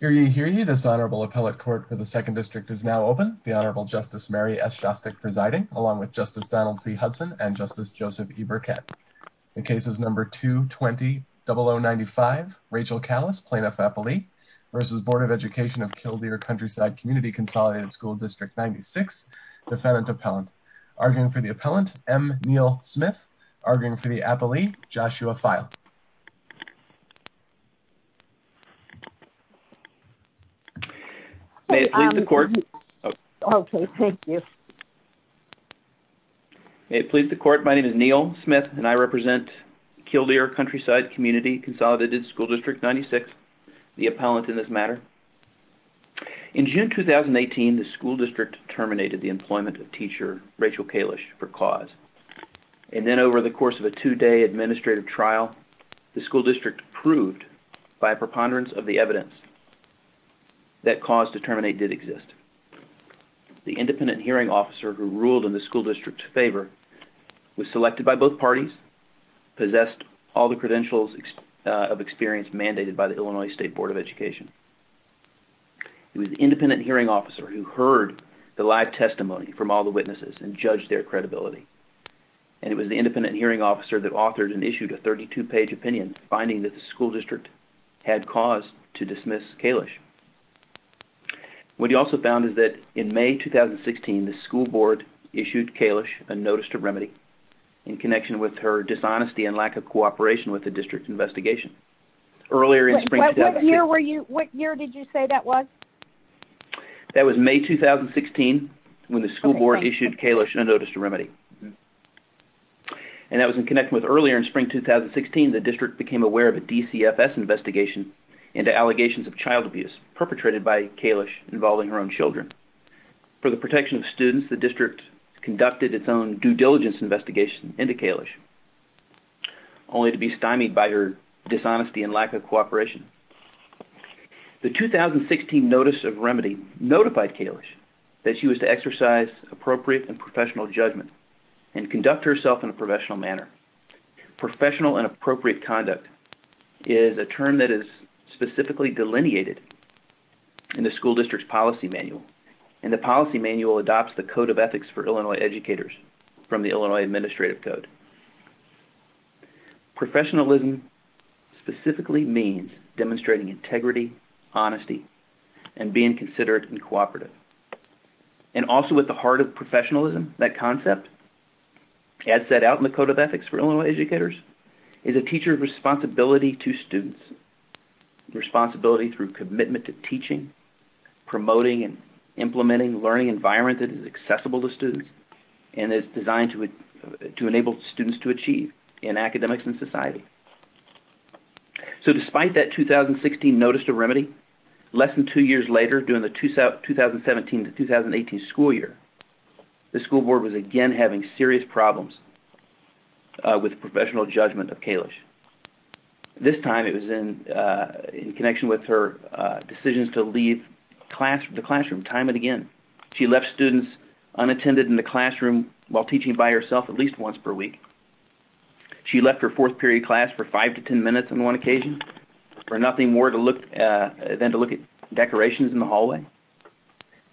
Hear ye, hear ye, this Honorable Appellate Court for the Second District is now open. The Honorable Justice Mary S. Shostak presiding, along with Justice Donald C. Hudson and Justice Joseph E. Burkett. The case is number 220-0095, Rachel Kalisz, plaintiff-appellee, versus Board of Education of Kildeer Countryside Community Consolidated School District 96, defendant-appellant. Arguing for the appellant, M. Neal Smith. Arguing for the appellee, Joshua Feil. May it please the court, my name is Neal Smith and I represent Kildeer Countryside Community Consolidated School District 96, the appellant in this matter. In June 2018, the school district terminated the employment of teacher Rachel Kalisz for cause and then over the course of a two-day administrative trial, the school district proved by a preponderance of the evidence that cause to terminate did exist. The independent hearing officer who ruled in the school district's favor was selected by both parties, possessed all the credentials of experience mandated by the Illinois State Board of Education. It was the independent hearing officer who heard the live testimony from all the witnesses and judged their credibility and it was the independent hearing officer that authored and issued a 32-page opinion finding that the school district had cause to dismiss Kalisz. What he also found is that in May 2016, the school board issued Kalisz a notice to remedy in connection with her dishonesty and lack of cooperation with the district investigation. What year did you say that was? That was May 2016 when the school board issued Kalisz a notice to remedy and that was in connection with earlier in spring 2016, the district became aware of a DCFS investigation into allegations of child abuse perpetrated by Kalisz involving her own children. For the protection of students, the district conducted its own due diligence investigation into Kalisz only to be stymied by her dishonesty and lack of cooperation. The 2016 notice of remedy notified Kalisz that she was to exercise appropriate and professional judgment and conduct herself in a professional manner. Professional and appropriate conduct is a term that is specifically delineated in the school district's policy manual and the policy manual adopts the code of ethics for Illinois educators from the Illinois Administrative Code. Professionalism specifically means demonstrating integrity, honesty, and being considerate and cooperative. And also at the heart of professionalism, that concept, as set out in the code of ethics for Illinois educators, is a teacher's responsibility to students, responsibility through commitment to teaching, promoting and implementing learning environments that is accessible to students and is designed to enable students to achieve in academics and society. So despite that 2016 notice to remedy, less than two years later, during the 2017-2018 school year, the school board was again having serious problems with professional judgment of Kalisz. This time it was in connection with her decisions to leave the classroom time and again. She left students unattended in the classroom while teaching by herself at least once per week. She left her fourth period class for five to ten minutes on one occasion for nothing more than to look at decorations in the hallway.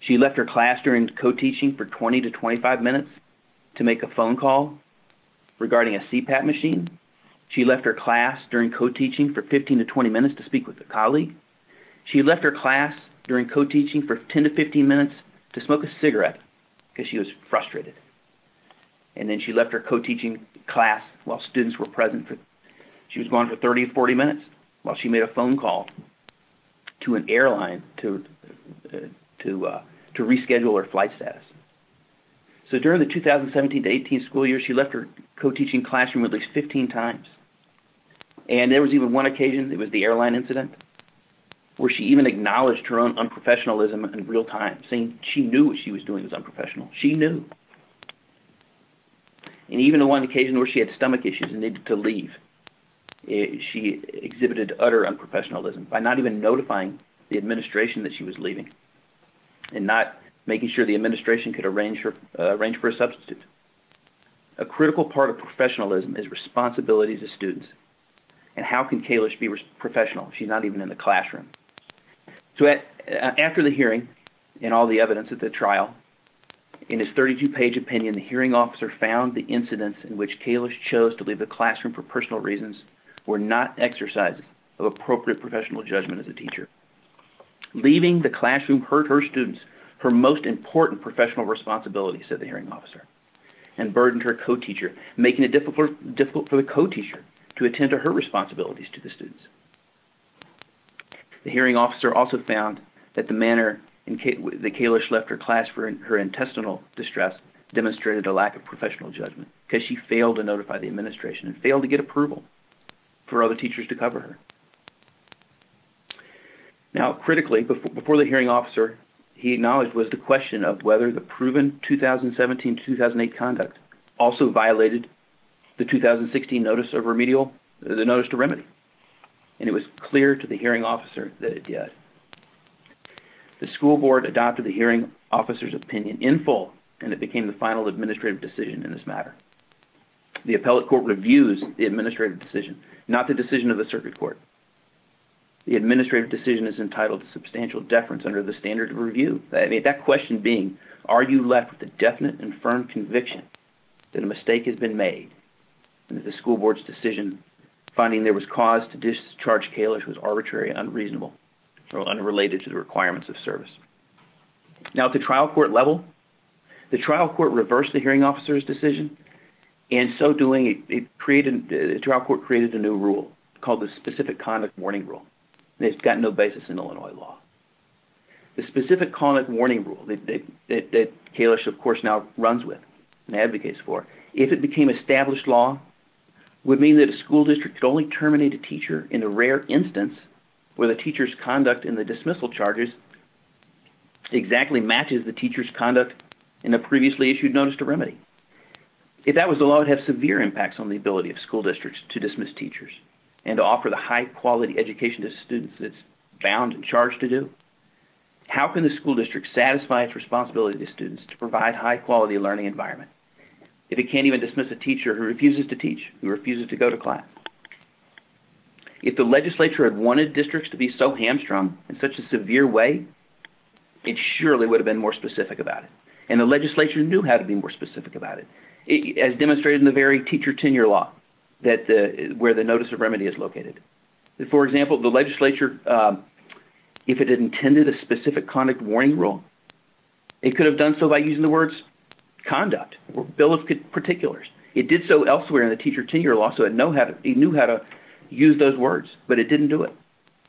She left her class during co-teaching for 20 to 25 minutes to make a phone call regarding a CPAP machine. She left her class during co-teaching for 15 to 20 minutes to speak with a colleague. She left her class during co-teaching for 10 to 15 minutes to smoke a cigarette because she was frustrated. And then she left her co-teaching class while students were present. She was gone for 30 to 40 minutes while she made a phone call to an airline to reschedule her flight status. So during the 2017-2018 school year, she left her co-teaching classroom at least 15 times. And there was even one occasion, it was the airline incident, where she even acknowledged her own unprofessionalism in real time, saying she knew what she was doing was unprofessional. She knew. And even on one occasion where she had stomach issues and needed to leave, she exhibited utter unprofessionalism by not even notifying the administration that she was leaving and not making sure the administration could arrange for a substitute. A critical part of professionalism is responsibility to students. And how can Kalish be professional if she's not even in the classroom? After the hearing and all the evidence at the trial, in his 32-page opinion, the hearing officer found the incidents in which Kalish chose to leave the classroom for personal Leaving the classroom hurt her students, her most important professional responsibility, said the hearing officer, and burdened her co-teacher, making it difficult for the co-teacher to attend to her responsibilities to the students. The hearing officer also found that the manner in which Kalish left her class for her intestinal distress demonstrated a lack of professional judgment because she failed to notify the Now, critically, before the hearing officer, he acknowledged was the question of whether the proven 2017-2008 conduct also violated the 2016 notice of remedial, the notice to remedy. And it was clear to the hearing officer that it did. The school board adopted the hearing officer's opinion in full, and it became the final administrative decision in this matter. The appellate court reviews the administrative decision, not the decision of the circuit court. The administrative decision is entitled to substantial deference under the standard of review. That question being, are you left with a definite and firm conviction that a mistake has been made and that the school board's decision finding there was cause to discharge Kalish was arbitrary, unreasonable, or unrelated to the requirements of service? Now, at the trial court level, the trial court reversed the hearing officer's decision, and in so doing, the trial court created a new rule called the specific conduct warning rule. And it's got no basis in Illinois law. The specific conduct warning rule that Kalish, of course, now runs with and advocates for, if it became established law, would mean that a school district could only terminate a teacher in a rare instance where the teacher's conduct in the dismissal charges exactly matches the teacher's conduct in a previously issued notice to remedy. If that was the law, it would have severe impacts on the ability of school districts to dismiss teachers and to offer the high-quality education to students that it's bound and charged to do. How can the school district satisfy its responsibility to students to provide high-quality learning environment, if it can't even dismiss a teacher who refuses to teach, who refuses to go to class? If the legislature had wanted districts to be so hamstrung in such a severe way, it surely would have been more specific about it. And the legislature knew how to be more specific about it, as demonstrated in the very teacher tenure law, where the notice of remedy is located. For example, the legislature, if it intended a specific conduct warning rule, it could have done so by using the words conduct or bill of particulars. It did so elsewhere in the teacher tenure law, so it knew how to use those words. But it didn't do it.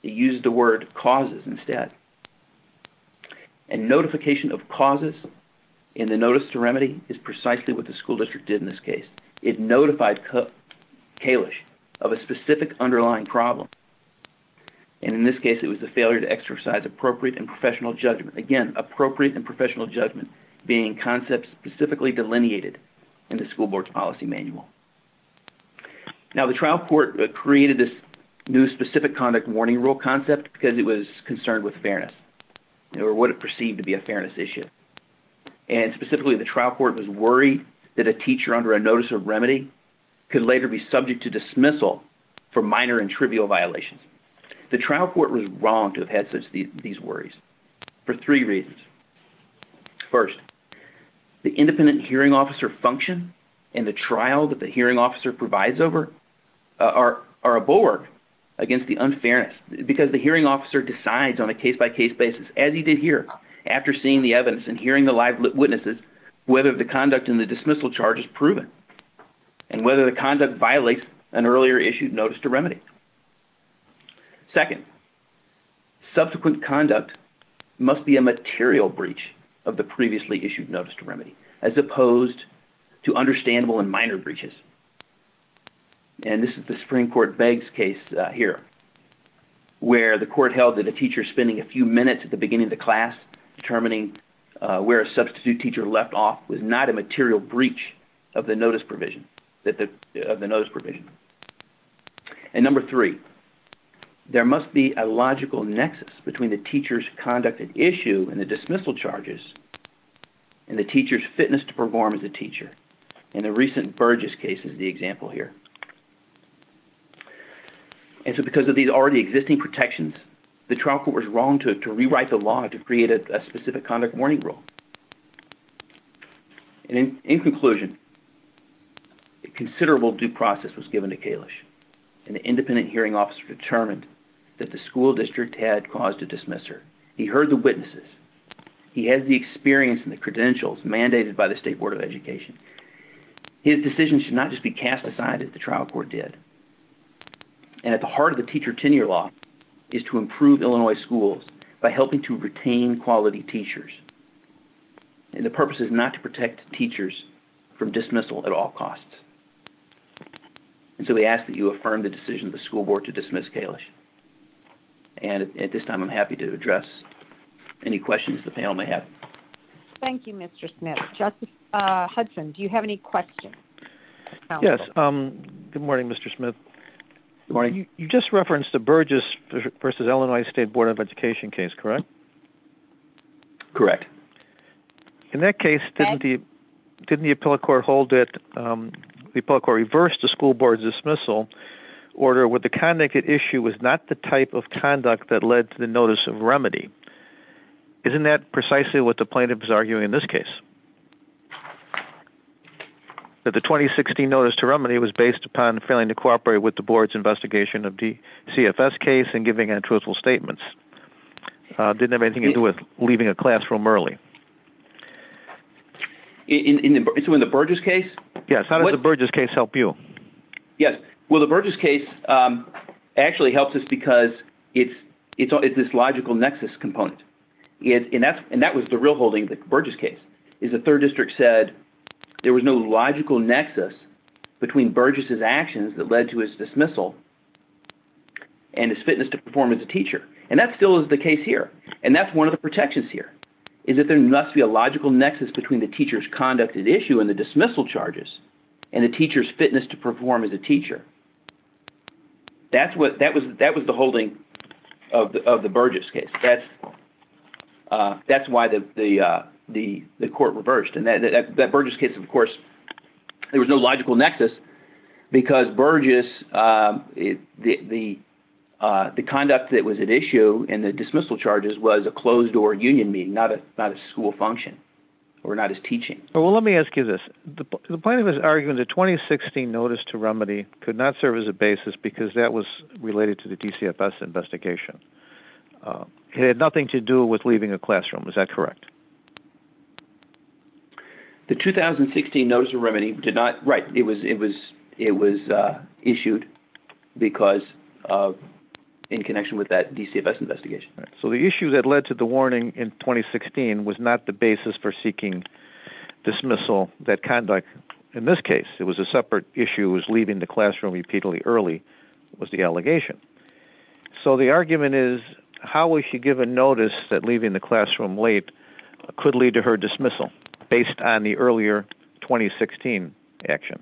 It used the word causes instead. And notification of causes in the notice to remedy is precisely what the school district did in this case. It notified Kalish of a specific underlying problem. And in this case, it was the failure to exercise appropriate and professional judgment. Again, appropriate and professional judgment being concepts specifically delineated in the school board's policy manual. Now the trial court created this new specific conduct warning rule concept because it was concerned with fairness, or what it perceived to be a fairness issue. And specifically, the trial court was worried that a teacher under a notice of remedy could later be subject to dismissal for minor and trivial violations. The trial court was wrong to have had these worries for three reasons. First, the independent hearing officer function and the trial that the hearing officer provides are a bulwark against the unfairness because the hearing officer decides on a case-by-case basis, as he did here, after seeing the evidence and hearing the live witnesses, whether the conduct in the dismissal charge is proven and whether the conduct violates an earlier issued notice to remedy. Second, subsequent conduct must be a material breach of the previously issued notice to remedy. And this is the Supreme Court Beggs case here, where the court held that a teacher spending a few minutes at the beginning of the class determining where a substitute teacher left off was not a material breach of the notice provision. And number three, there must be a logical nexus between the teacher's conduct at issue and the dismissal charges and the teacher's fitness to perform as a teacher. And the recent Burgess case is the example here. And so because of these already existing protections, the trial court was wrong to rewrite the law to create a specific conduct warning rule. In conclusion, a considerable due process was given to Kalish and the independent hearing officer determined that the school district had caused a dismissal. He heard the witnesses. He has the experience and the credentials mandated by the State Board of Education. His decision should not just be cast aside as the trial court did. And at the heart of the teacher tenure law is to improve Illinois schools by helping to retain quality teachers. And the purpose is not to protect teachers from dismissal at all costs. And so we ask that you affirm the decision of the school board to dismiss Kalish. And at this time, I'm happy to address any questions the panel may have. Thank you, Mr. Smith. Justice Hudson, do you have any questions? Yes. Good morning, Mr. Smith. Good morning. You just referenced the Burgess v. Illinois State Board of Education case, correct? Correct. In that case, didn't the appellate court reverse the school board's dismissal order where the connected issue was not the type of conduct that led to the notice of remedy? Isn't that precisely what the plaintiff is arguing in this case? That the 2016 notice to remedy was based upon failing to cooperate with the board's investigation of the CFS case and giving untruthful statements? Did it have anything to do with leaving a classroom early? In the Burgess case? Yes. How did the Burgess case help you? Yes. Well, the Burgess case actually helps us because it's this logical nexus component. And that was the real holding of the Burgess case, is the third district said there was no logical nexus between Burgess's actions that led to his dismissal and his fitness to perform as a teacher. And that still is the case here. And that's one of the protections here, is that there must be a logical nexus between the teacher's conduct at issue and the dismissal charges and the teacher's fitness to perform as a teacher. That was the holding of the Burgess case. That's why the court reversed. And that Burgess case, of course, there was no logical nexus because Burgess, the conduct that was at issue and the dismissal charges was a closed-door union meeting, not a school function or not his teaching. Well, let me ask you this. The plaintiff is arguing the 2016 notice to remedy could not serve as a basis because that was related to the DCFS investigation. It had nothing to do with leaving a classroom. Is that correct? The 2016 notice of remedy did not, right, it was issued because of, in connection with that DCFS investigation. So the issue that led to the warning in 2016 was not the basis for seeking dismissal. That conduct, in this case, it was a separate issue, was leaving the classroom repeatedly early was the allegation. So the argument is, how will she give a notice that leaving the classroom late could lead to her dismissal based on the earlier 2016 action?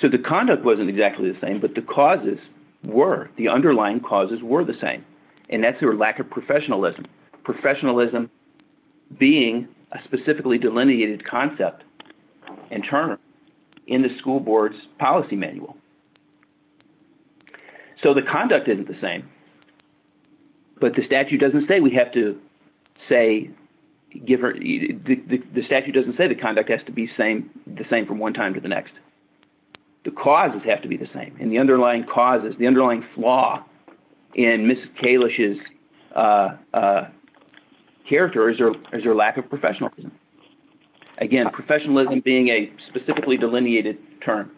So the conduct wasn't exactly the same, but the causes were. The underlying causes were the same, and that's her lack of professionalism, professionalism being a specifically delineated concept internally in the school board's policy manual. So the conduct isn't the same, but the statute doesn't say we have to say, the statute doesn't say the conduct has to be the same from one time to the next. The causes have to be the same, and the underlying causes, the underlying flaw in Mrs. Kalish's character is her lack of professionalism. Again, professionalism being a specifically delineated term.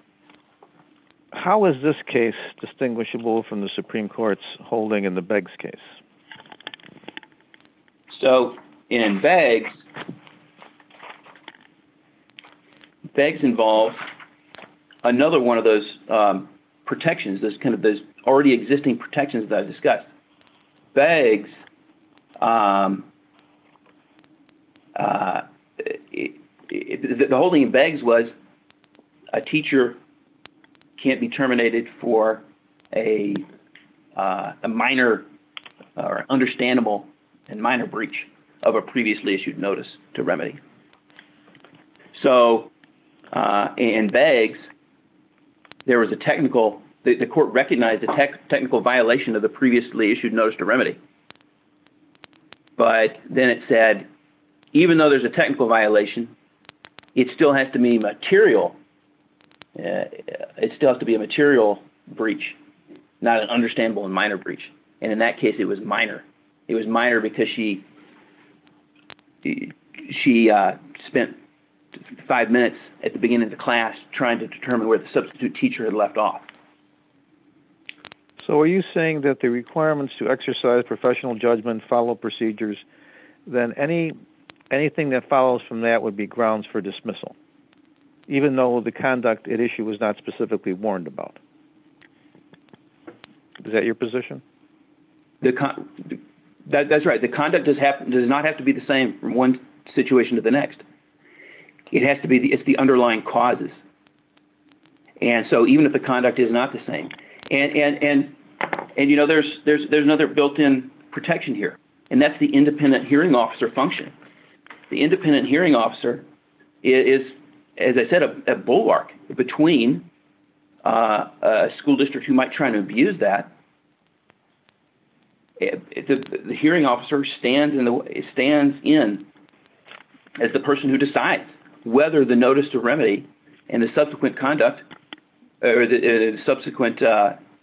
How is this case distinguishable from the Supreme Court's holding in the Beggs case? So in Beggs, Beggs involves another one of those protections, those already existing protections that I discussed. Beggs, the holding in Beggs was a teacher can't be terminated for a minor or understandable and minor breach of a previously issued notice to remedy. So in Beggs, there was a technical, the court recognized a technical violation of the previously issued notice to remedy, but then it said, even though there's a technical violation, it still has to be material, it still has to be a material breach, not an understandable and minor breach. And in that case, it was minor. It was minor because she spent five minutes at the beginning of the class trying to determine where the substitute teacher had left off. So are you saying that the requirements to exercise professional judgment follow procedures, then anything that follows from that would be grounds for dismissal, even though the conduct at issue was not specifically warned about? Is that your position? That's right. The conduct does not have to be the same from one situation to the next. It has to be, it's the underlying causes. And so even if the conduct is not the same, and, you know, there's another built-in protection here, and that's the independent hearing officer function. The independent hearing officer is, as I said, a bulwark between a school district who might try to abuse that. The hearing officer stands in as the person who decides whether the notice to remedy and the subsequent conduct or the subsequent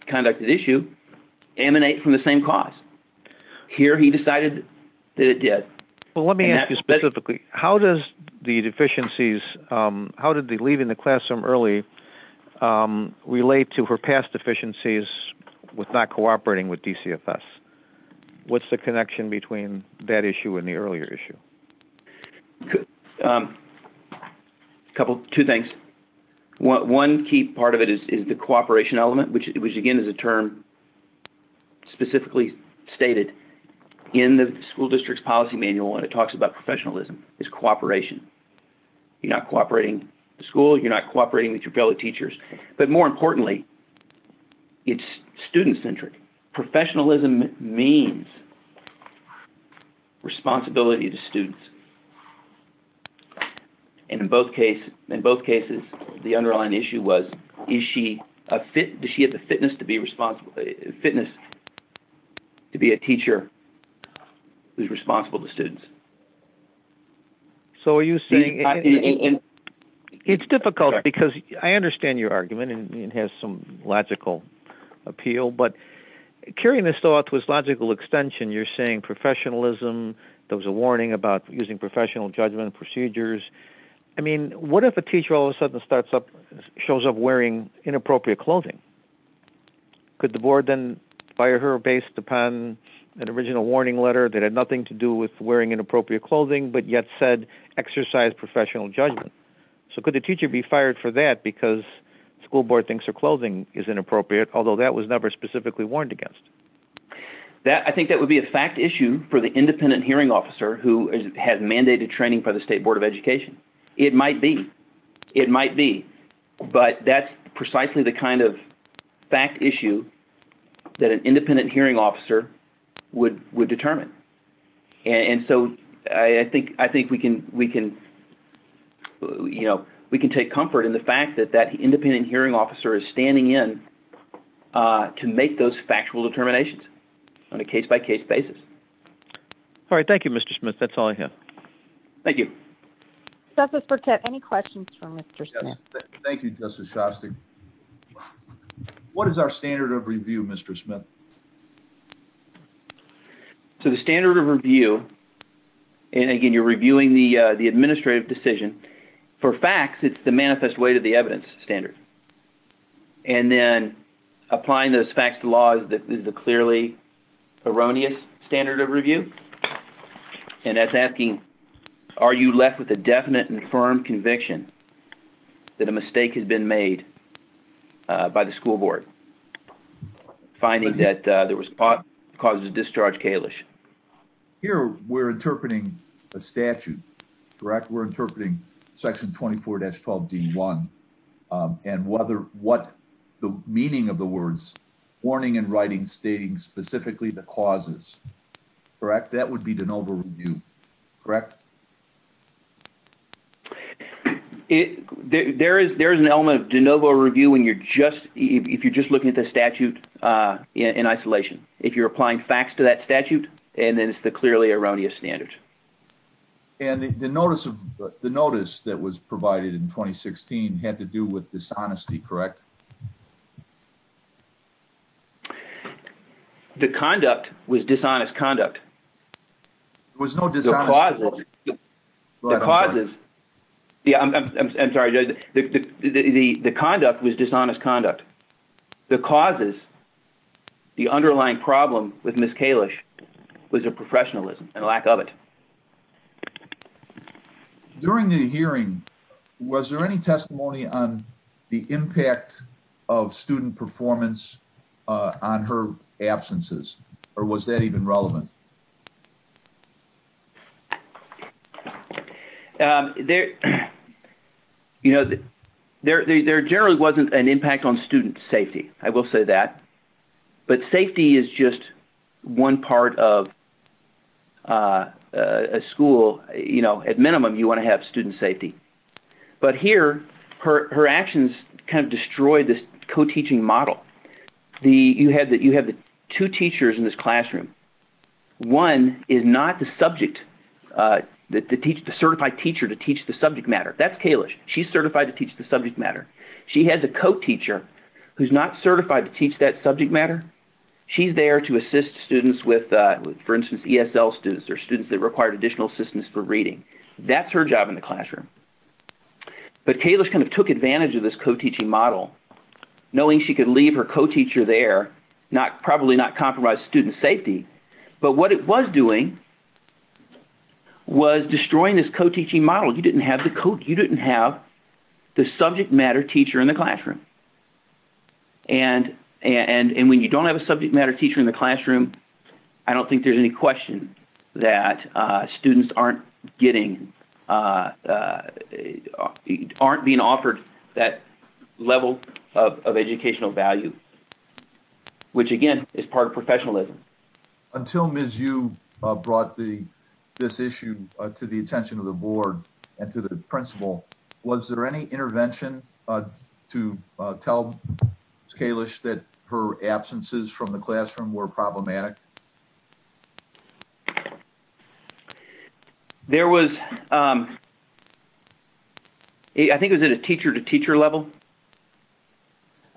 conduct at issue emanate from the same cause. Here he decided that it did. Well, let me ask you specifically, how does the deficiencies, how did the leaving the deficiencies with not cooperating with DCFS, what's the connection between that issue and the earlier issue? Two things. One key part of it is the cooperation element, which, again, is a term specifically stated in the school district's policy manual, and it talks about professionalism, is cooperation. You're not cooperating with the school, you're not cooperating with your fellow teachers. But more importantly, it's student-centric. Professionalism means responsibility to students. And in both cases, the underlying issue was, is she a fit, does she have the fitness to be responsible, fitness to be a teacher who's responsible to students? So are you saying... It's difficult because I understand your argument, and it has some logical appeal, but carrying this thought to its logical extension, you're saying professionalism, there was a warning about using professional judgment procedures. I mean, what if a teacher all of a sudden starts up, shows up wearing inappropriate clothing? Could the board then fire her based upon an original warning letter that had nothing to do with wearing inappropriate clothing, but yet said exercise professional judgment? So could the teacher be fired for that because school board thinks her clothing is inappropriate, although that was never specifically warned against? I think that would be a fact issue for the independent hearing officer who has mandated training for the State Board of Education. It might be. It might be. But that's precisely the kind of fact issue that an independent hearing officer would determine. And so I think we can, you know, we can take comfort in the fact that that independent hearing officer is standing in to make those factual determinations on a case-by-case basis. All right. Thank you, Mr. Smith. That's all I have. Thank you. Justice Burkett, any questions for Mr. Smith? Thank you, Justice Shostak. What is our standard of review, Mr. Smith? So the standard of review, and again, you're reviewing the administrative decision. For facts, it's the manifest way to the evidence standard. And then applying those facts to law is the clearly erroneous standard of review. And that's asking, are you left with a definite and firm conviction that a mistake has been made by the school board? Finding that there was a cause of discharge, Kalish. Here, we're interpreting a statute, correct? We're interpreting section 24-12D1. And what the meaning of the words, warning and writing stating specifically the causes, correct? That would be de novo review, correct? Yes. There is an element of de novo review when you're just, if you're just looking at the statute in isolation. If you're applying facts to that statute, and then it's the clearly erroneous standard. And the notice that was provided in 2016 had to do with dishonesty, correct? The conduct was dishonest conduct. There was no dishonesty. The causes, I'm sorry, the conduct was dishonest conduct. The causes, the underlying problem with Ms. Kalish was her professionalism and lack of it. During the hearing, was there any testimony on the impact of student performance on her absences? Or was that even relevant? There generally wasn't an impact on student safety. I will say that. But safety is just one part of a school. At minimum, you want to have student safety. But here, her actions kind of destroyed this co-teaching model. You have two teachers in this classroom. One is not the subject, the certified teacher to teach the subject matter. That's Kalish. She's certified to teach the subject matter. She has a co-teacher who's not certified to teach that subject matter. She's there to assist students with, for instance, ESL students or students that require additional assistance for reading. That's her job in the classroom. But Kalish kind of took advantage of this co-teaching model, knowing she could leave her co-teacher there, probably not compromise student safety. But what it was doing was destroying this co-teaching model. You didn't have the subject matter teacher in the classroom. And when you don't have a subject matter teacher in the classroom, I don't think there's any question that students aren't getting, aren't being offered that level of educational value, which, again, is part of professionalism. Until Ms. Yu brought this issue to the attention of the board and to the principal, was there any intervention to tell Kalish that her absences from the classroom were problematic? There was, I think it was at a teacher-to-teacher level.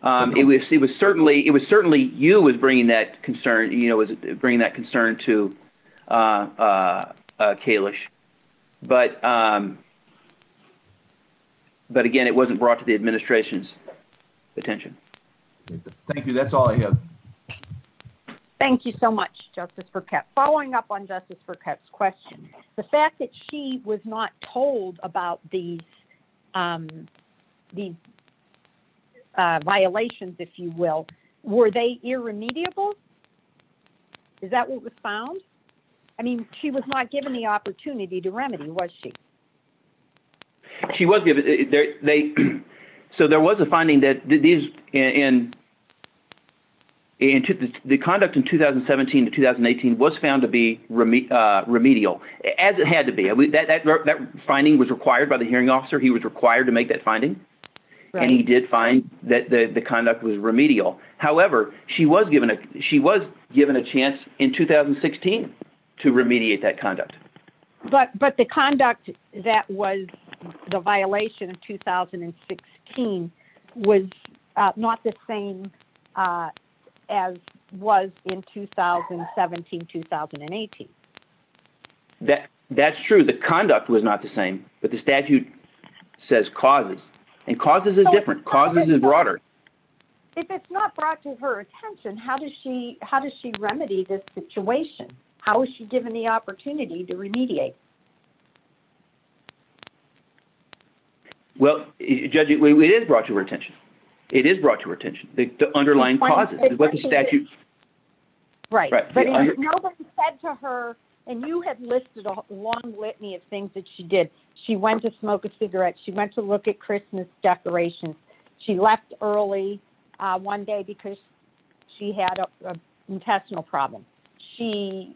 It was certainly, it was certainly Yu was bringing that concern, you know, was bringing that concern to Kalish. But again, it wasn't brought to the administration's attention. Thank you. That's all I have. Thank you so much, Justice Burkett. Following up on Justice Burkett's question, the fact that she was not told about these violations, if you will, were they irremediable? Is that what was found? I mean, she was not given the opportunity to remedy, was she? She was given, they, so there was a finding that these, and the conduct in 2017 to 2018 was found to be remedial, as it had to be. That finding was required by the hearing officer. He was required to make that finding. And he did find that the conduct was remedial. However, she was given a chance in 2016 to remediate that conduct. But, but the conduct that was the violation of 2016 was not the same as was in 2017, 2018. That, that's true. The conduct was not the same, but the statute says causes, and causes is different. Causes is broader. If it's not brought to her attention, how does she, how does she remedy this situation? How is she given the opportunity to remediate? Well, Judge, it is brought to her attention. It is brought to her attention. The underlying causes. Right. But nobody said to her, and you have listed a long litany of things that she did. She went to smoke a cigarette. She went to look at Christmas decorations. She left early one day because she had an intestinal problem. She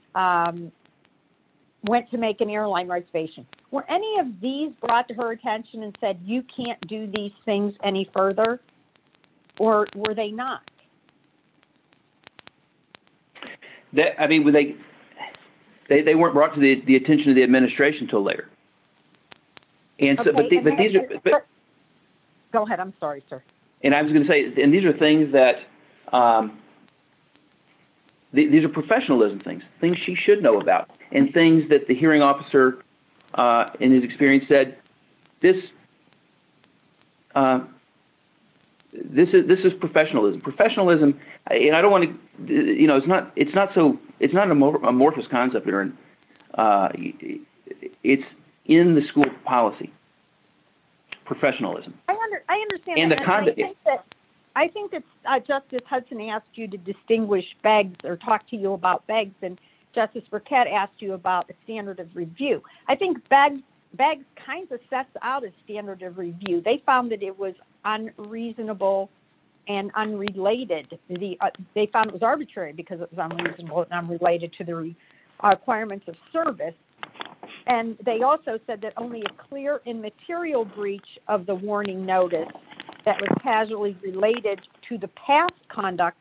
went to make an airline reservation. Were any of these brought to her attention and said, you can't do these things any further? Or were they not? That, I mean, were they, they weren't brought to the attention of the administration until later. And so, but these are. Go ahead. I'm sorry, sir. And I was going to say, and these are things that. These are professionalism things. Things she should know about. And things that the hearing officer, in his experience, said. This. This is professionalism. Professionalism, and I don't want to, you know, it's not, it's not so, it's not an amorphous concept here. It's in the school policy. Professionalism. I understand that. I think that Justice Hudson asked you to distinguish BEGS or talk to you about BEGS. And Justice Burkett asked you about the standard of review. I think BEGS kind of sets out a standard of review. They found that it was unreasonable and unrelated. They found it was arbitrary because it was unreasonable and unrelated to the requirements of service. And they also said that only a clear immaterial breach of the warning notice that was casually related to the past conduct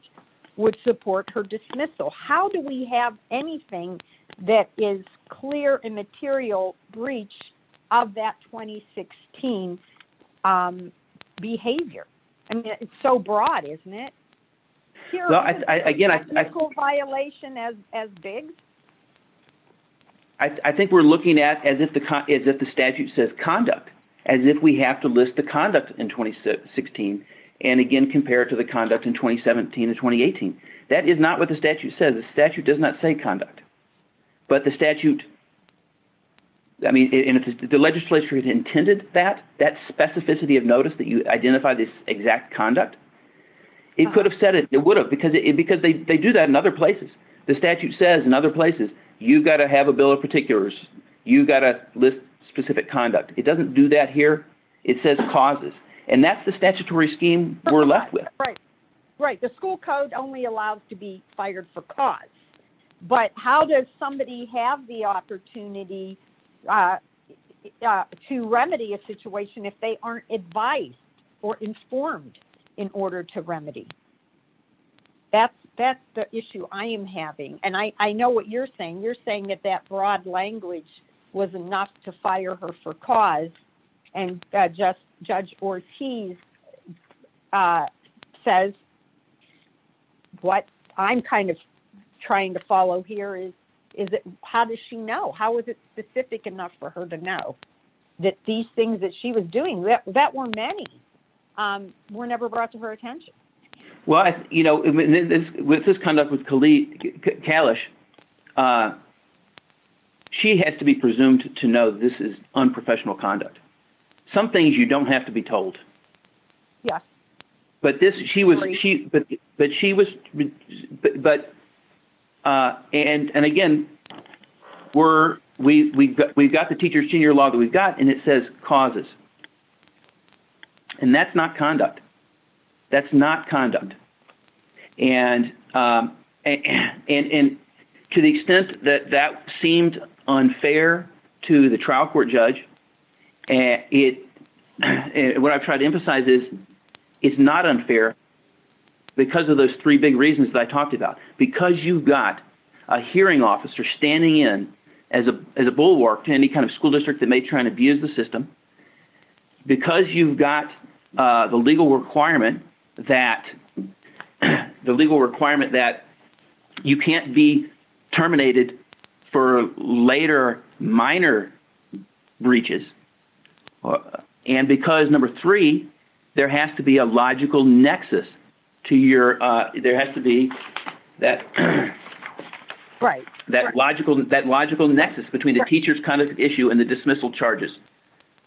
would support her dismissal. How do we have anything that is clear immaterial breach of that 2016 behavior? I mean, it's so broad, isn't it? Again, I. Technical violation as BEGS? I think we're looking at as if the statute says conduct, as if we have to list the conduct in 2016 and again compare it to the conduct in 2017 and 2018. That is not what the statute says. The statute does not say conduct. But the statute, I mean, and if the legislature had intended that, that specificity of notice that you identify this exact conduct, it could have said it. It would have because they do that in other places. The statute says in other places, you've got to have a bill of particulars. You've got to list specific conduct. It doesn't do that here. It says causes. And that's the statutory scheme we're left with. Right. The school code only allows to be fired for cause. But how does somebody have the opportunity to remedy a situation if they aren't advised or informed in order to remedy? That's the issue. That's the issue I am having. And I know what you're saying. You're saying that that broad language was enough to fire her for cause. And Judge Ortiz says what I'm kind of trying to follow here is how does she know? How is it specific enough for her to know that these things that she was doing, that were many, were never brought to her attention? Well, you know, with this conduct with Kalish, she has to be presumed to know this is unprofessional conduct. Some things you don't have to be told. Yes. But she was, and again, we've got the teacher's tenure law that we've got and it says causes. And that's not conduct. That's not conduct. And to the extent that that seemed unfair to the trial court judge, what I've tried to emphasize is it's not unfair because of those three big reasons that I talked about. Because you've got a hearing officer standing in as a bulwark to any kind of school district that may try and abuse the system. Because you've got the legal requirement that you can't be terminated for later minor breaches. And because number three, there has to be a logical nexus to your, there has to be that logical nexus between the teacher's conduct issue and the dismissal charges.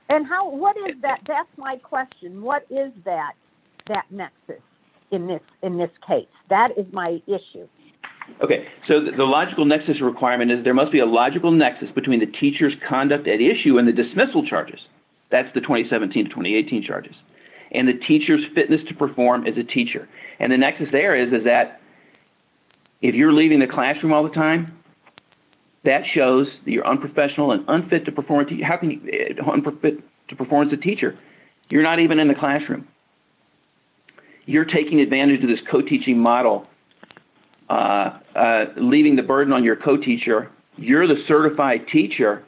And how, what is that, that's my question. What is that, that nexus in this case? That is my issue. Okay, so the logical nexus requirement is there must be a logical nexus between the teacher's conduct at issue and the dismissal charges. That's the 2017-2018 charges. And the teacher's fitness to perform as a teacher. And the nexus there is that if you're leaving the classroom all the time, that shows that you're unprofessional and unfit to perform as a teacher. You're not even in the classroom. You're taking advantage of this co-teaching model, leaving the burden on your co-teacher. You're the certified teacher,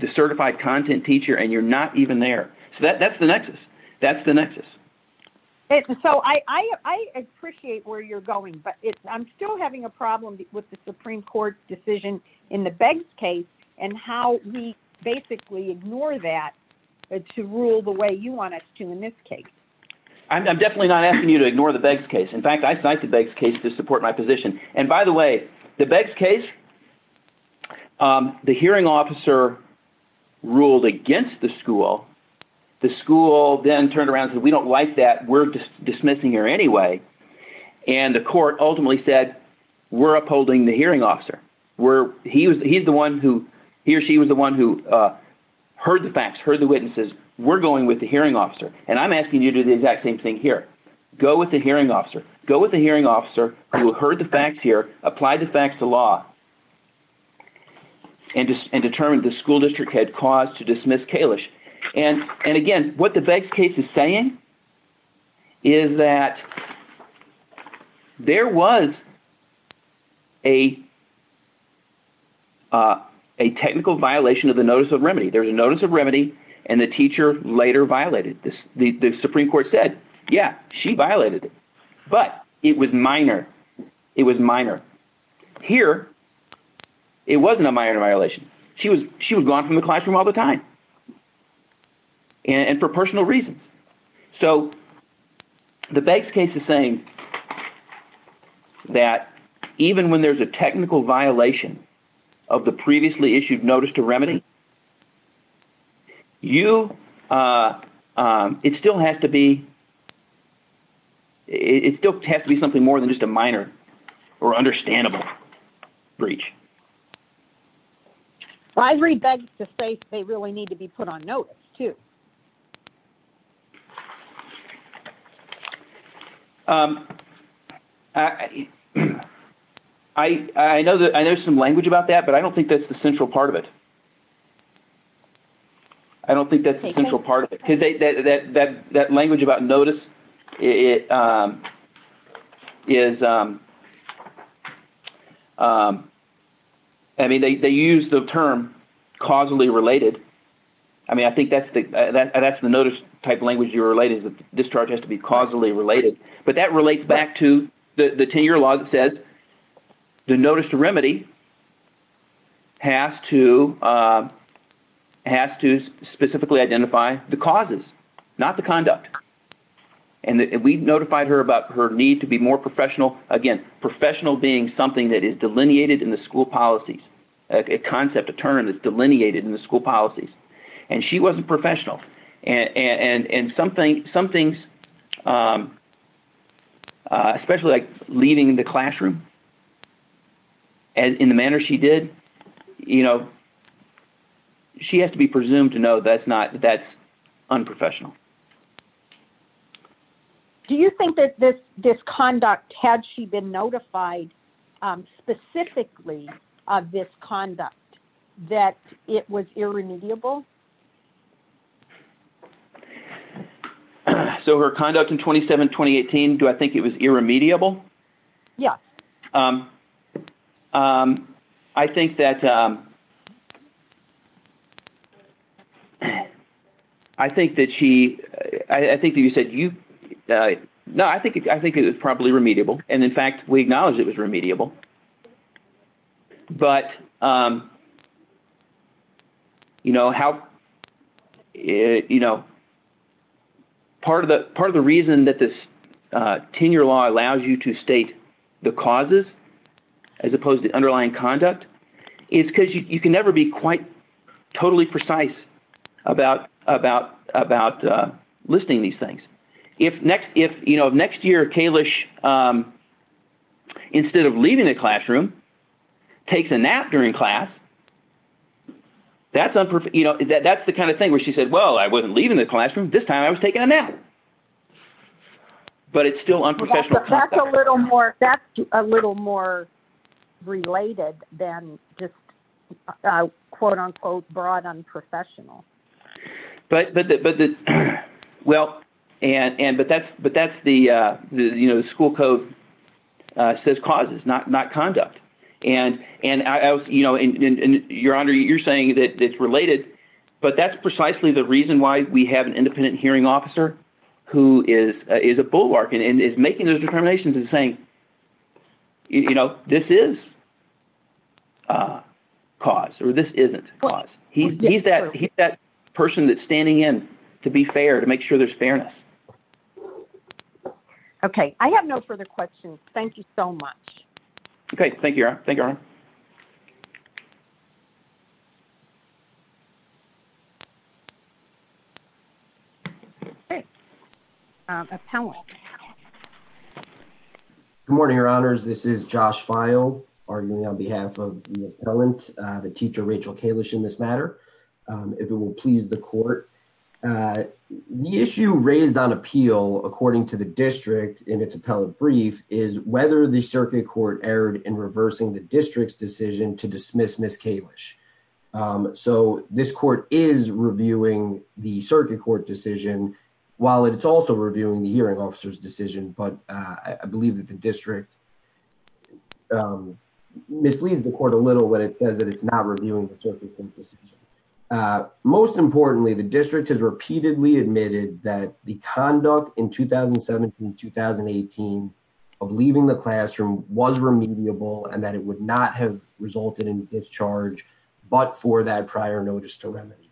the certified content teacher, and you're not even there. So that's the nexus. That's the nexus. So I appreciate where you're going, but I'm still having a problem with the Supreme Court's decision in the Beggs case and how we basically ignore that to rule the way you want us to in this case. I'm definitely not asking you to ignore the Beggs case. In fact, I cite the Beggs case to support my position. And by the way, the Beggs case, the hearing officer ruled against the school. The school then turned around and said, we don't like that. We're dismissing her anyway. And the court ultimately said, we're upholding the hearing officer. He or she was the one who heard the facts, heard the witnesses. We're going with the hearing officer. And I'm asking you to do the exact same thing here. Go with the hearing officer. Go with the hearing officer who heard the facts here, applied the facts to law, and determined the school district had cause to dismiss Kalish. And again, what the Beggs case is saying is that there was a technical violation of the notice of remedy. There was a notice of remedy, and the teacher later violated it. The Supreme Court said, yeah, she violated it. But it was minor. It was minor. Here, it wasn't a minor violation. She was gone from the classroom all the time. And for personal reasons. So the Beggs case is saying that even when there's a technical violation of the previously issued notice to remedy, it still has to be something more than just a minor or understandable breach. Well, I read Beggs to say they really need to be put on notice, too. I know there's some language about that, but I don't think that's the central part of it. I don't think that's the central part of it. Because that language about notice is, I mean, they use the term causally related. I mean, I think that's the notice type language you're related to. Discharge has to be causally related. But that relates back to the 10-year law that says the notice to remedy has to specifically identify the causes, not the conduct. And we notified her about her need to be more professional. Again, professional being something that is delineated in the school policies. A concept, a term that's delineated in the school policies. And she wasn't professional. And some things, especially like leaving the classroom in the manner she did, you know, she has to be presumed to know that's unprofessional. Do you think that this conduct, had she been notified specifically of this conduct, that it was irremediable? So her conduct in 27-2018, do I think it was irremediable? Yes. I think that she, I think that you said you, no, I think it was probably remediable. And in fact, we acknowledged it was remediable. But, you know, how, you know, part of the reason that this 10-year law allows you to state the causes, as opposed to underlying conduct, is because you can never be quite totally precise about listing these things. If next year Kalish, instead of leaving the classroom, takes a nap during class, that's the kind of thing where she said, well, I wasn't leaving the classroom. This time I was taking a nap. But it's still unprofessional. That's a little more related than just quote unquote broad unprofessional. But, well, but that's the, you know, the school code says causes, not conduct. And, you know, Your Honor, you're saying that it's related, but that's precisely the reason why we have an independent hearing officer who is a bulwark and is making those determinations and saying, you know, this is cause, or this isn't cause. He's that person that's standing in to be fair, to make sure there's fairness. Okay. I have no further questions. Thank you so much. Okay. Thank you, Your Honor. Thank you, Your Honor. Appellant. Good morning, Your Honors. This is Josh Feil, arguing on behalf of the appellant, the teacher, Rachel Kalish, in this matter, if it will please the court. The issue raised on appeal, according to the district in its appellate brief, is whether the circuit court erred in reversing the district's decision to dismiss Miss Kalish. So, this court is reviewing the circuit court decision, while it's also reviewing the hearing officer's decision, but I believe that the district misleads the court a little when it says that it's not reviewing the circuit court decision. Most importantly, the district has repeatedly admitted that the conduct in 2017-2018 of leaving the classroom was remediable and that it would not have resulted in discharge, but for that prior notice to remedy.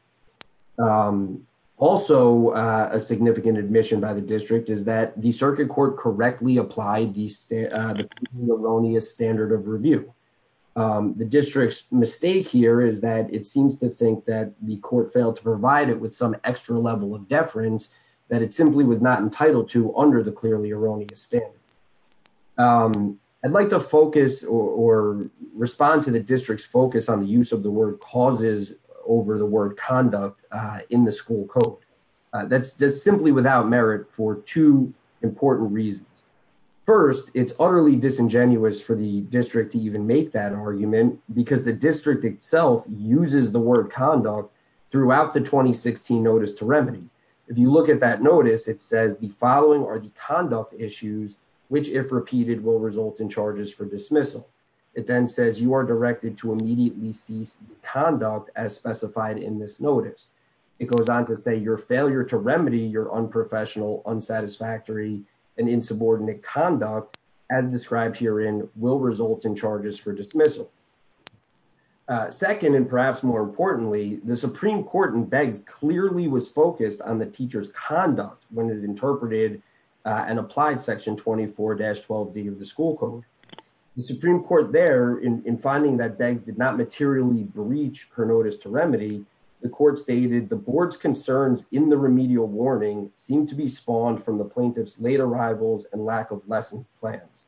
Also, a significant admission by the district is that the circuit court correctly applied the erroneous standard of review. The district's mistake here is that it seems to think that the court failed to provide it with some extra level of deference that it simply was not entitled to under the clearly erroneous standard. I'd like to focus or respond to the district's focus on the use of the word causes over the word conduct in the school code. That's just simply without merit for two important reasons. First, it's utterly disingenuous for the district to even make that argument because the district itself uses the word conduct throughout the 2016 notice to remedy. If you look at that notice, it says the following are the conduct issues which, if repeated, will result in charges for dismissal. It then says you are directed to immediately cease conduct as specified in this notice. It goes on to say your failure to remedy your unprofessional, unsatisfactory, and insubordinate conduct, as described herein, will result in charges for dismissal. Second, and perhaps more importantly, the Supreme Court in Beggs clearly was focused on the teacher's conduct when it interpreted and applied section 24-12D of the school code. The Supreme Court there, in finding that Beggs did not materially breach her notice to remedy, the court stated the board's concerns in the remedial warning seemed to be spawned from the plaintiff's late arrivals and lack of lesson plans.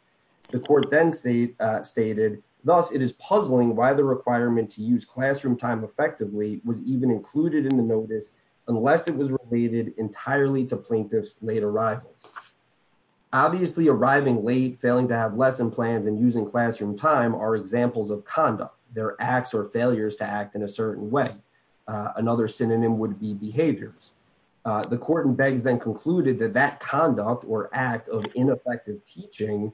The court then stated, thus, it is puzzling why the requirement to use classroom time effectively was even included in the notice unless it was related entirely to plaintiff's late arrivals. Obviously, arriving late, failing to have lesson plans, and using classroom time are examples of conduct. They're acts or failures to act in a certain way. Another synonym would be behaviors. The court in Beggs then concluded that that conduct or act of ineffective teaching,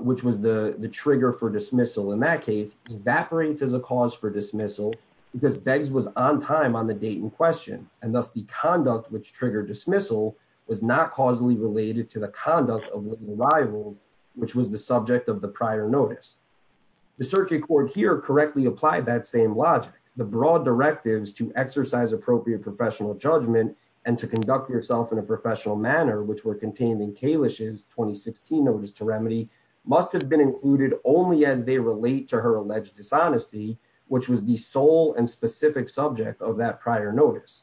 which was the trigger for dismissal in that case, evaporates as a cause for dismissal because Beggs was on time on the date in question. And thus, the conduct which triggered dismissal was not causally related to the conduct of the arrival, which was the subject of the prior notice. The circuit court here correctly applied that same logic. The broad directives to exercise appropriate professional judgment and to conduct yourself in a professional manner, which were contained in Kalish's 2016 notice to remedy, must have been included only as they relate to her alleged dishonesty, which was the sole and specific subject of that prior notice.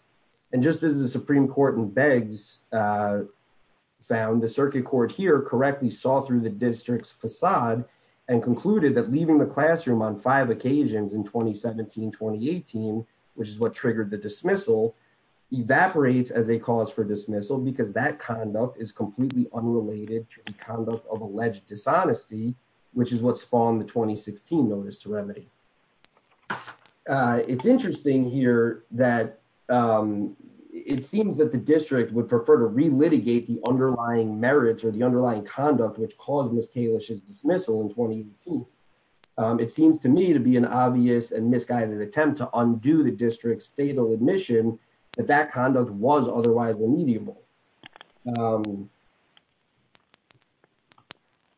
And just as the Supreme Court in Beggs found, the circuit court here correctly saw through the district's facade and concluded that leaving the classroom on five occasions in 2017-2018, which is what triggered the dismissal, evaporates as a cause for dismissal because that conduct is completely unrelated to the conduct of alleged dishonesty, which is what spawned the 2016 notice to remedy. It's interesting here that it seems that the district would prefer to re-litigate the underlying merits or the underlying conduct which caused Ms. Kalish's dismissal in 2018. It seems to me to be an obvious and misguided attempt to undo the district's fatal admission that that conduct was otherwise unmediable.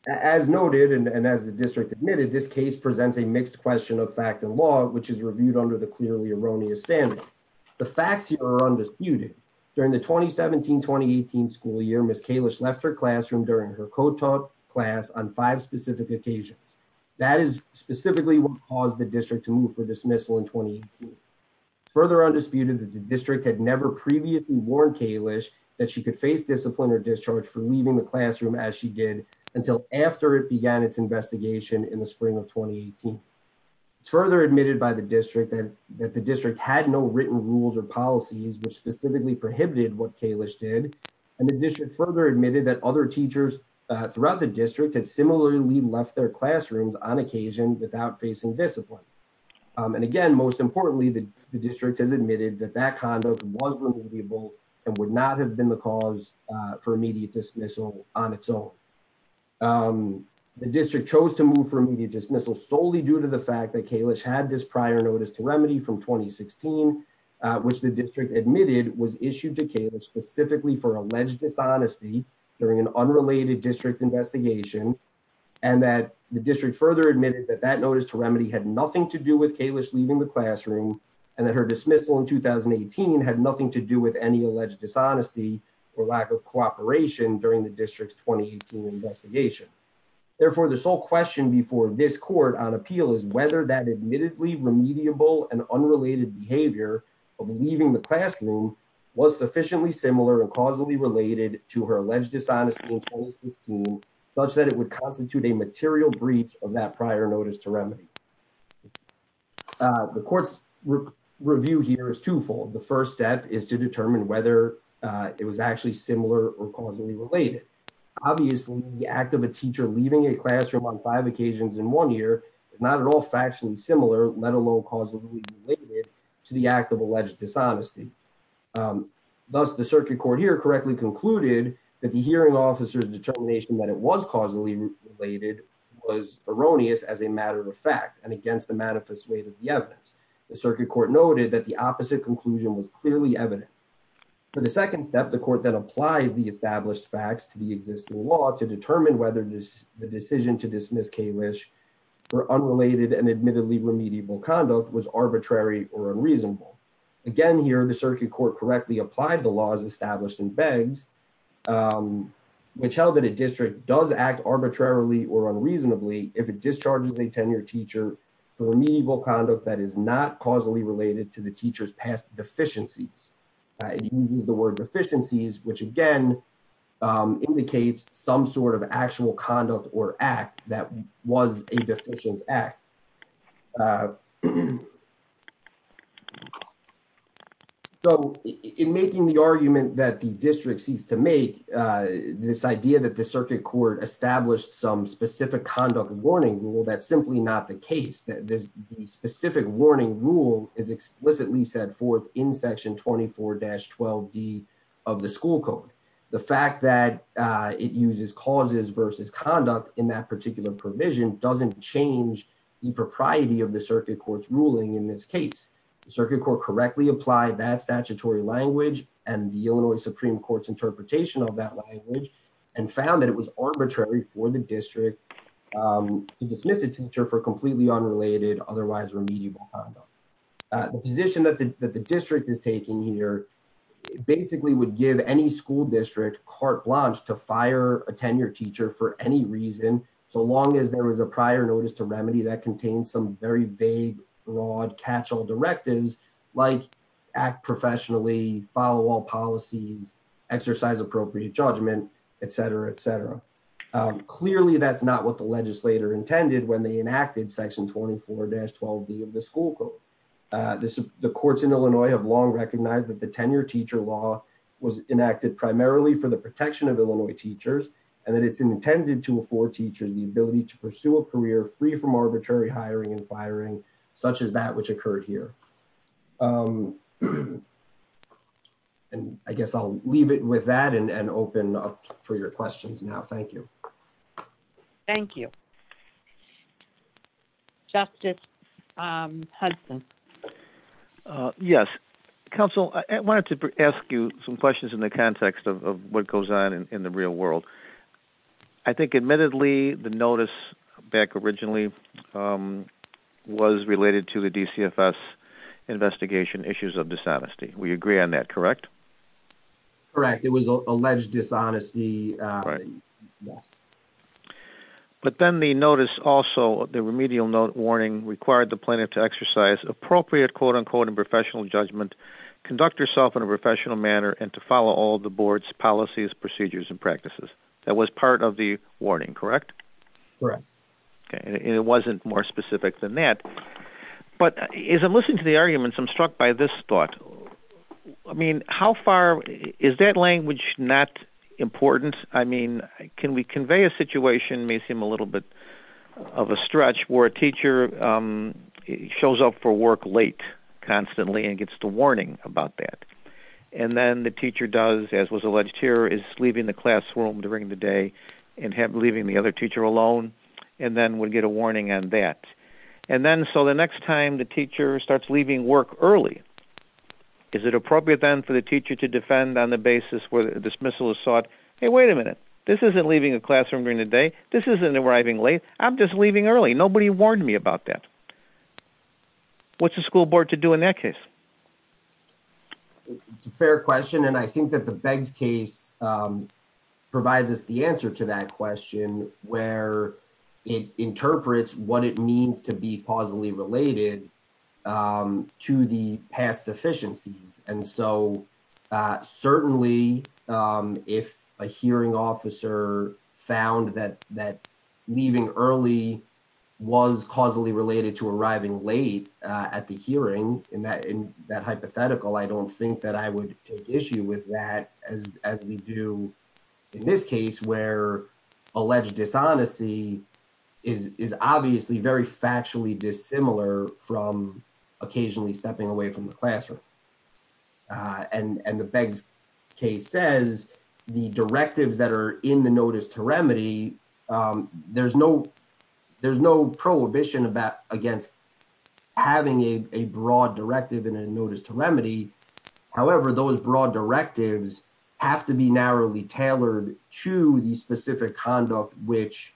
As noted, and as the district admitted, this case presents a mixed question of fact and law, which is reviewed under the clearly erroneous standard. The facts here are undisputed. During the 2017-2018 school year, Ms. Kalish left her classroom during her co-taught class on five specific occasions. That is specifically what caused the district to move for dismissal in 2018. It's further undisputed that the district had never previously warned Kalish that she could face discipline or discharge for leaving the classroom as she did until after it began its investigation in the spring of 2018. It's further admitted by the district that the district had no written rules or policies which specifically prohibited what Kalish did. And the district further admitted that other teachers throughout the district had similarly left their classrooms on occasion without facing discipline. And again, most importantly, the district has admitted that that conduct was removable and would not have been the cause for immediate dismissal on its own. The district chose to move for immediate dismissal solely due to the fact that Kalish had this prior notice to remedy from 2016, which the district admitted was issued to Kalish specifically for alleged dishonesty during an unrelated district investigation, and that the district further admitted that that notice to remedy had nothing to do with Kalish leaving the classroom, and that her dismissal in 2018 had nothing to do with any alleged dishonesty or lack of cooperation during the district's 2018 investigation. Therefore, the sole question before this court on appeal is whether that admittedly remediable and unrelated behavior of leaving the classroom was sufficiently similar and causally related to her alleged dishonesty in 2016, such that it would constitute a material breach of that prior notice to remedy. The court's review here is twofold. The first step is to determine whether it was actually similar or causally related. Obviously, the act of a teacher leaving a classroom on five occasions in one year is not at all factually similar, let alone causally related to the act of alleged dishonesty. Thus, the circuit court here correctly concluded that the hearing officer's determination that it was causally related was erroneous as a matter of fact and against the manifest weight of the evidence. The circuit court noted that the opposite conclusion was clearly evident. For the second step, the court then applies the established facts to the existing law to determine whether the decision to dismiss Kalish for unrelated and admittedly remediable conduct was arbitrary or unreasonable. Again here, the circuit court correctly applied the laws established in Beggs, which held that a district does act arbitrarily or unreasonably if it discharges a tenured teacher for remediable conduct that is not causally related to the teacher's past deficiencies. It uses the word deficiencies, which again indicates some sort of actual conduct or act that was a deficient act. So, in making the argument that the district seeks to make, this idea that the circuit court established some specific conduct warning rule, that's simply not the case. The specific warning rule is explicitly set forth in section 24-12D of the school code. The fact that it uses causes versus conduct in that particular provision doesn't change the propriety of the circuit court's ruling in this case. The circuit court correctly applied that statutory language and the Illinois Supreme Court's interpretation of that language and found that it was arbitrary for the district to dismiss a teacher for completely unrelated, otherwise remediable conduct. The position that the district is taking here basically would give any school district carte blanche to fire a tenured teacher for any reason, so long as there was a prior notice to remedy that contained some very vague, broad, catch-all directives like act professionally, follow all policies, exercise appropriate judgment, et cetera, et cetera. Clearly, that's not what the legislator intended when they enacted section 24-12D of the school code. The courts in Illinois have long recognized that the tenured teacher law was enacted primarily for the protection of Illinois teachers and that it's intended to afford teachers the ability to pursue a career free from arbitrary hiring and firing, such as that which occurred here. I guess I'll leave it with that and open up for your questions now. Thank you. Thank you. Justice Hudson. Yes. Counsel, I wanted to ask you some questions in the context of what goes on in the real world. I think, admittedly, the notice back originally was related to the DCFS investigation issues of dishonesty. We agree on that, correct? Correct. It was alleged dishonesty. Right. But then the notice also, the remedial note warning, required the plaintiff to exercise appropriate, quote-unquote, and professional judgment, conduct herself in a professional manner, and to follow all the board's policies, procedures, and practices. That was part of the warning, correct? Correct. And it wasn't more specific than that. But as I'm listening to the arguments, I'm struck by this thought. I mean, how far, is that language not important? I mean, can we convey a situation, may seem a little bit of a stretch, where a teacher shows up for work late constantly and gets the warning about that. And then the teacher does, as was alleged here, is leaving the classroom during the day and leaving the other teacher alone, and then would get a warning on that. And then, so the next time the teacher starts leaving work early, is it appropriate then for the teacher to defend on the basis where the dismissal is sought? Hey, wait a minute. This isn't leaving the classroom during the day. This isn't arriving late. I'm just leaving early. Nobody warned me about that. What's the school board to do in that case? It's a fair question, and I think that the Beggs case provides us the answer to that question, where it interprets what it means to be causally related to the past deficiencies. And so, certainly, if a hearing officer found that leaving early was causally related to arriving late at the hearing, in that hypothetical, I don't think that I would take issue with that, as we do in this case, where alleged dishonesty is obviously very factually dissimilar from occasionally stepping away from the classroom. And the Beggs case says the directives that are in the notice to remedy, there's no prohibition against having a broad directive in a notice to remedy. However, those broad directives have to be narrowly tailored to the specific conduct which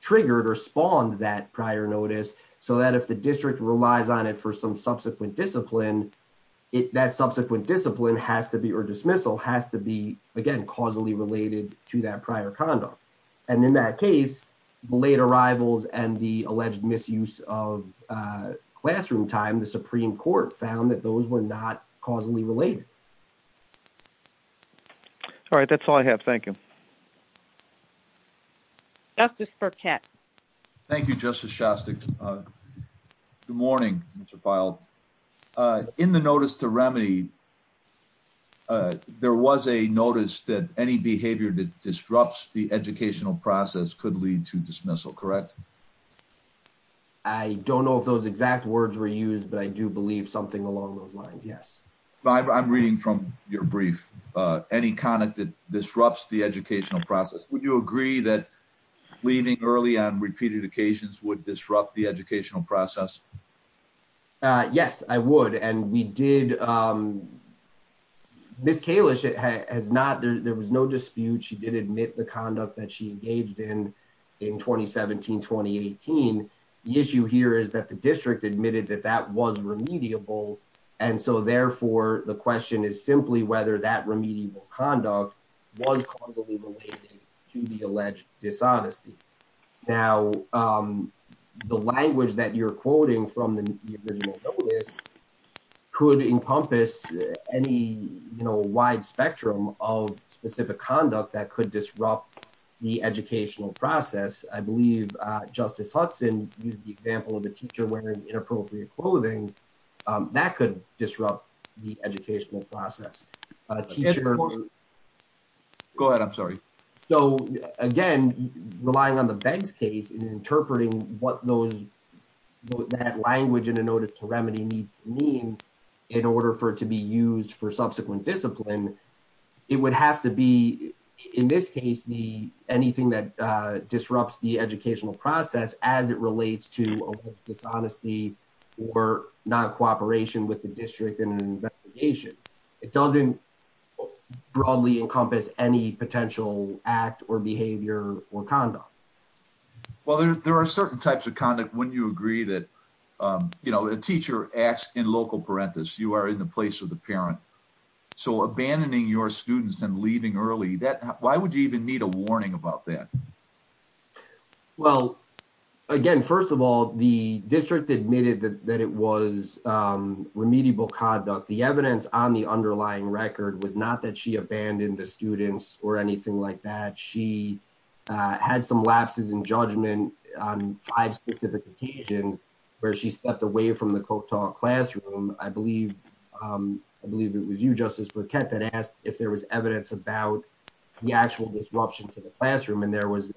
triggered or spawned that prior notice, so that if the district relies on it for some subsequent discipline, that subsequent discipline has to be, or dismissal, has to be, again, causally related to that prior conduct. And in that case, the late arrivals and the alleged misuse of classroom time, the Supreme Court found that those were not causally related. All right, that's all I have. Thank you. Justice Burkett. Thank you, Justice Shastick. Good morning, Mr. Feild. In the notice to remedy, there was a notice that any behavior that disrupts the educational process could lead to dismissal, correct? Yes. I don't know if those exact words were used, but I do believe something along those lines, yes. I'm reading from your brief, any conduct that disrupts the educational process. Would you agree that leaving early on repeated occasions would disrupt the educational process? Yes, I would. And we did, Ms. Kalish has not, there was no dispute. She did admit the conduct that she engaged in, in 2017, 2018. The issue here is that the district admitted that that was remediable. And so, therefore, the question is simply whether that remedial conduct was causally related to the alleged dishonesty. Now, the language that you're quoting from the original notice could encompass any, you know, wide spectrum of specific conduct that could disrupt the educational process. I believe Justice Hudson used the example of a teacher wearing inappropriate clothing. That could disrupt the educational process. Go ahead. I'm sorry. So, again, relying on the Beggs case and interpreting what those, that language in a notice to remedy needs to mean in order for it to be used for subsequent discipline, it would have to be, in this case, anything that disrupts the educational process as it relates to dishonesty or non-cooperation with the district in an investigation. It doesn't broadly encompass any potential act or behavior or conduct. Well, there are certain types of conduct. Wouldn't you agree that, you know, a teacher acts in local parenthesis. You are in the place of the parent. You're abandoning your students and leaving early. Why would you even need a warning about that? Well, again, first of all, the district admitted that it was remedial conduct. The evidence on the underlying record was not that she abandoned the students or anything like that. She had some lapses in judgment on five specific occasions where she stepped away from the Kotal classroom. I believe it was you, Justice Burkett, that asked if there was evidence about the actual disruption to the classroom, and there was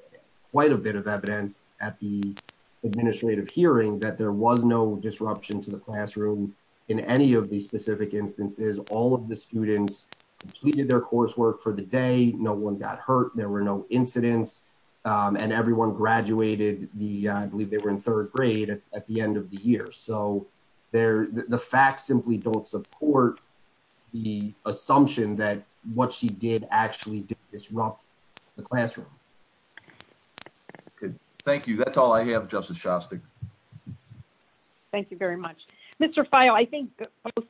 quite a bit of evidence at the administrative hearing that there was no disruption to the classroom in any of these specific instances. All of the students completed their coursework for the day. No one got hurt. There were no incidents. And everyone graduated the, I believe they were in third grade at the end of the year. So the facts simply don't support the assumption that what she did actually did disrupt the classroom. Good. Thank you. That's all I have, Justice Shostak. Thank you very much. Mr. Fayo, I think both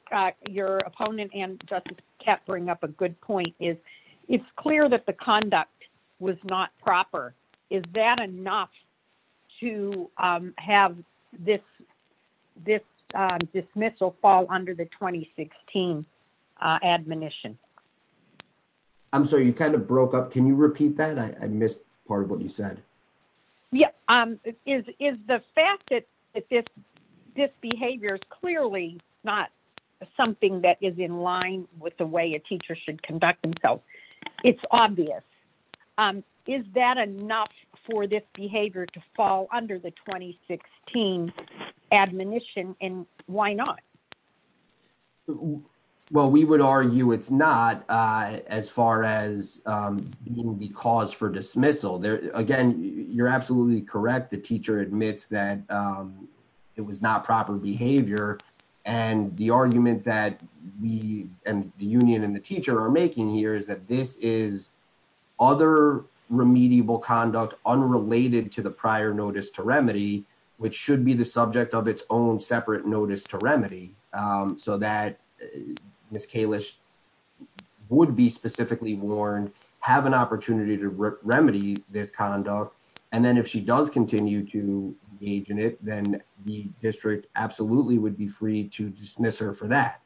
your opponent and Justice Kapp bring up a good point. It's clear that the conduct was not proper. Is that enough to have this dismissal fall under the 2016 admonition? I'm sorry, you kind of broke up. Can you repeat that? I missed part of what you said. Yeah. Is the fact that this behavior is clearly not something that is in line with the way a teacher should conduct themselves. It's obvious. Is that enough for this behavior to fall under the 2016 admonition? And why not? Well, we would argue it's not as far as being the cause for dismissal. Again, you're absolutely correct. The teacher admits that it was not proper behavior. And the argument that we and the union and the teacher are making here is that this is other remediable conduct unrelated to the prior notice to remedy, which should be the subject of its own separate notice to remedy. So that Ms. Kalish would be specifically warned, have an opportunity to remedy this conduct. And then if she does continue to engage in it, then the district absolutely would be free to dismiss her for that.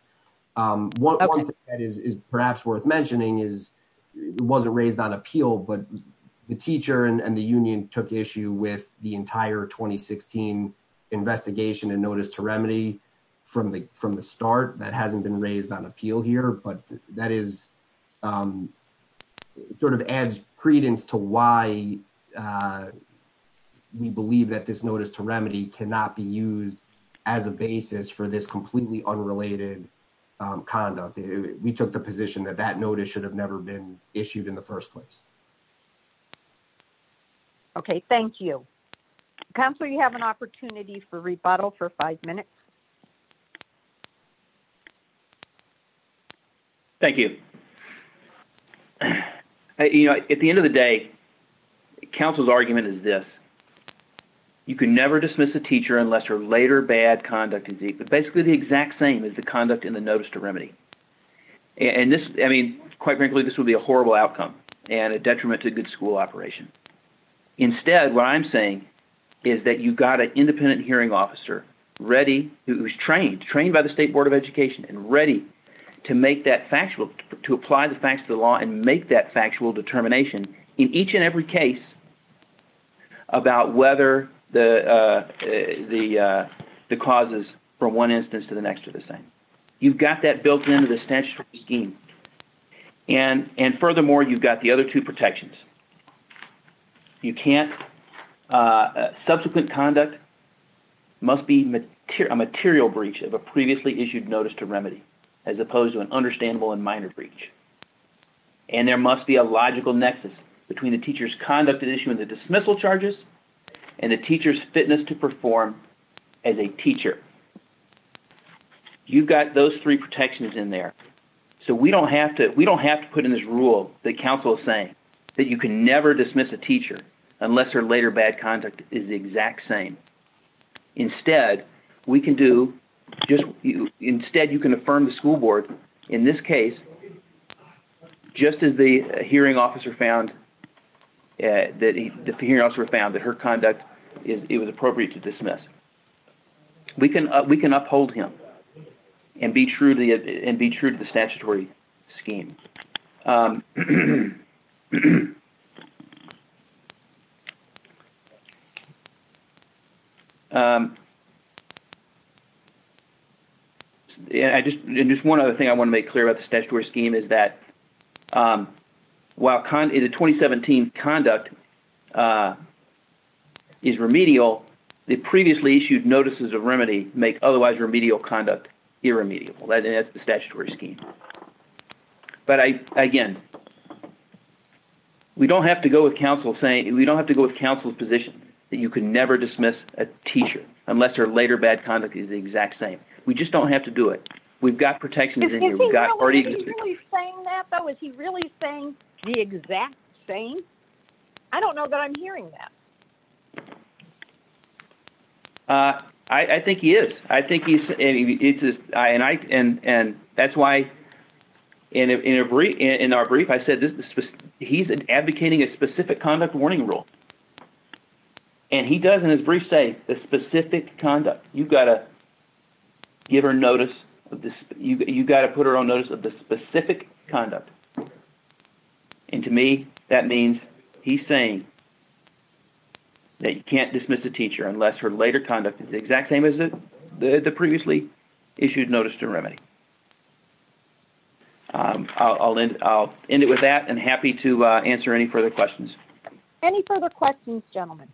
One thing that is perhaps worth mentioning is it wasn't raised on appeal, but the teacher and the union took issue with the entire 2016 investigation and notice to remedy from the start. That hasn't been raised on appeal here, but that sort of adds credence cannot be used as a basis for this completely unrelated conduct. We took the position that that notice should have never been issued in the first place. Okay, thank you. Counselor, you have an opportunity for rebuttal for five minutes. Thank you. At the end of the day, counsel's argument is this. You can never dismiss a teacher unless her later bad conduct is, but basically the exact same is the conduct in the notice to remedy. And this, I mean, quite frankly, this would be a horrible outcome and a detriment to a good school operation. Instead, what I'm saying is that you've got an independent hearing officer ready, who's trained, trained by the State Board of Education and ready to make that factual, to apply the facts of the law and make that factual determination in each and every case about whether the causes from one instance to the next are the same. You've got that built in to the statutory scheme. And furthermore, you've got the other two protections. You can't, subsequent conduct must be a material breach of a previously issued notice to remedy, as opposed to an understandable and minor breach. And there must be a logical nexus between the teacher's conduct and issue of the dismissal charges and the teacher's fitness to perform as a teacher. You've got those three protections in there. So we don't have to, we don't have to put in this rule that counsel is saying that you can never dismiss a teacher unless their later bad conduct is the exact same. Instead, we can do, instead you can affirm the school board, in this case, just as the hearing officer found, that the hearing officer found that her conduct, it was appropriate to dismiss. We can uphold him and be true to the statutory scheme. And just one other thing I want to make clear about the statutory scheme is that while the 2017 conduct is remedial, the previously issued notices of remedy make otherwise remedial conduct irremediable. That's the statutory scheme. But again, we don't have to go with counsel saying, we don't have to go with counsel's position that you can never dismiss a teacher unless her later bad conduct is the exact same. We just don't have to do it. We've got protections in here. Is he really saying that though? Is he really saying the exact same? I don't know that I'm hearing that. I think he is. I think he's, and that's why in our brief, I said he's advocating a specific conduct warning rule. And he does in his brief say the specific conduct, you've got to give her notice you've got to put her on notice of the specific conduct. And to me, that means he's saying that you can't dismiss a teacher unless her later conduct is the exact same as the previously issued notice to remedy. I'll end it with that and happy to answer any further questions. Any further questions, gentlemen?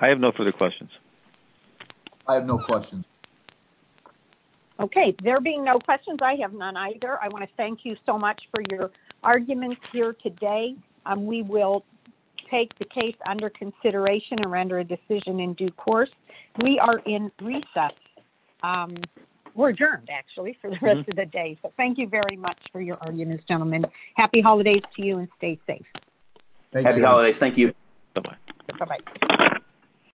I have no further questions. I have no questions. Okay, there being no questions, I have none either. I want to thank you so much for your arguments here today. We will take the case under consideration and render a decision in due course. We are in recess. We're adjourned actually for the rest of the day. So thank you very much for your arguments, gentlemen. Happy holidays to you and stay safe. Happy holidays. Thank you. Bye bye. Bye bye.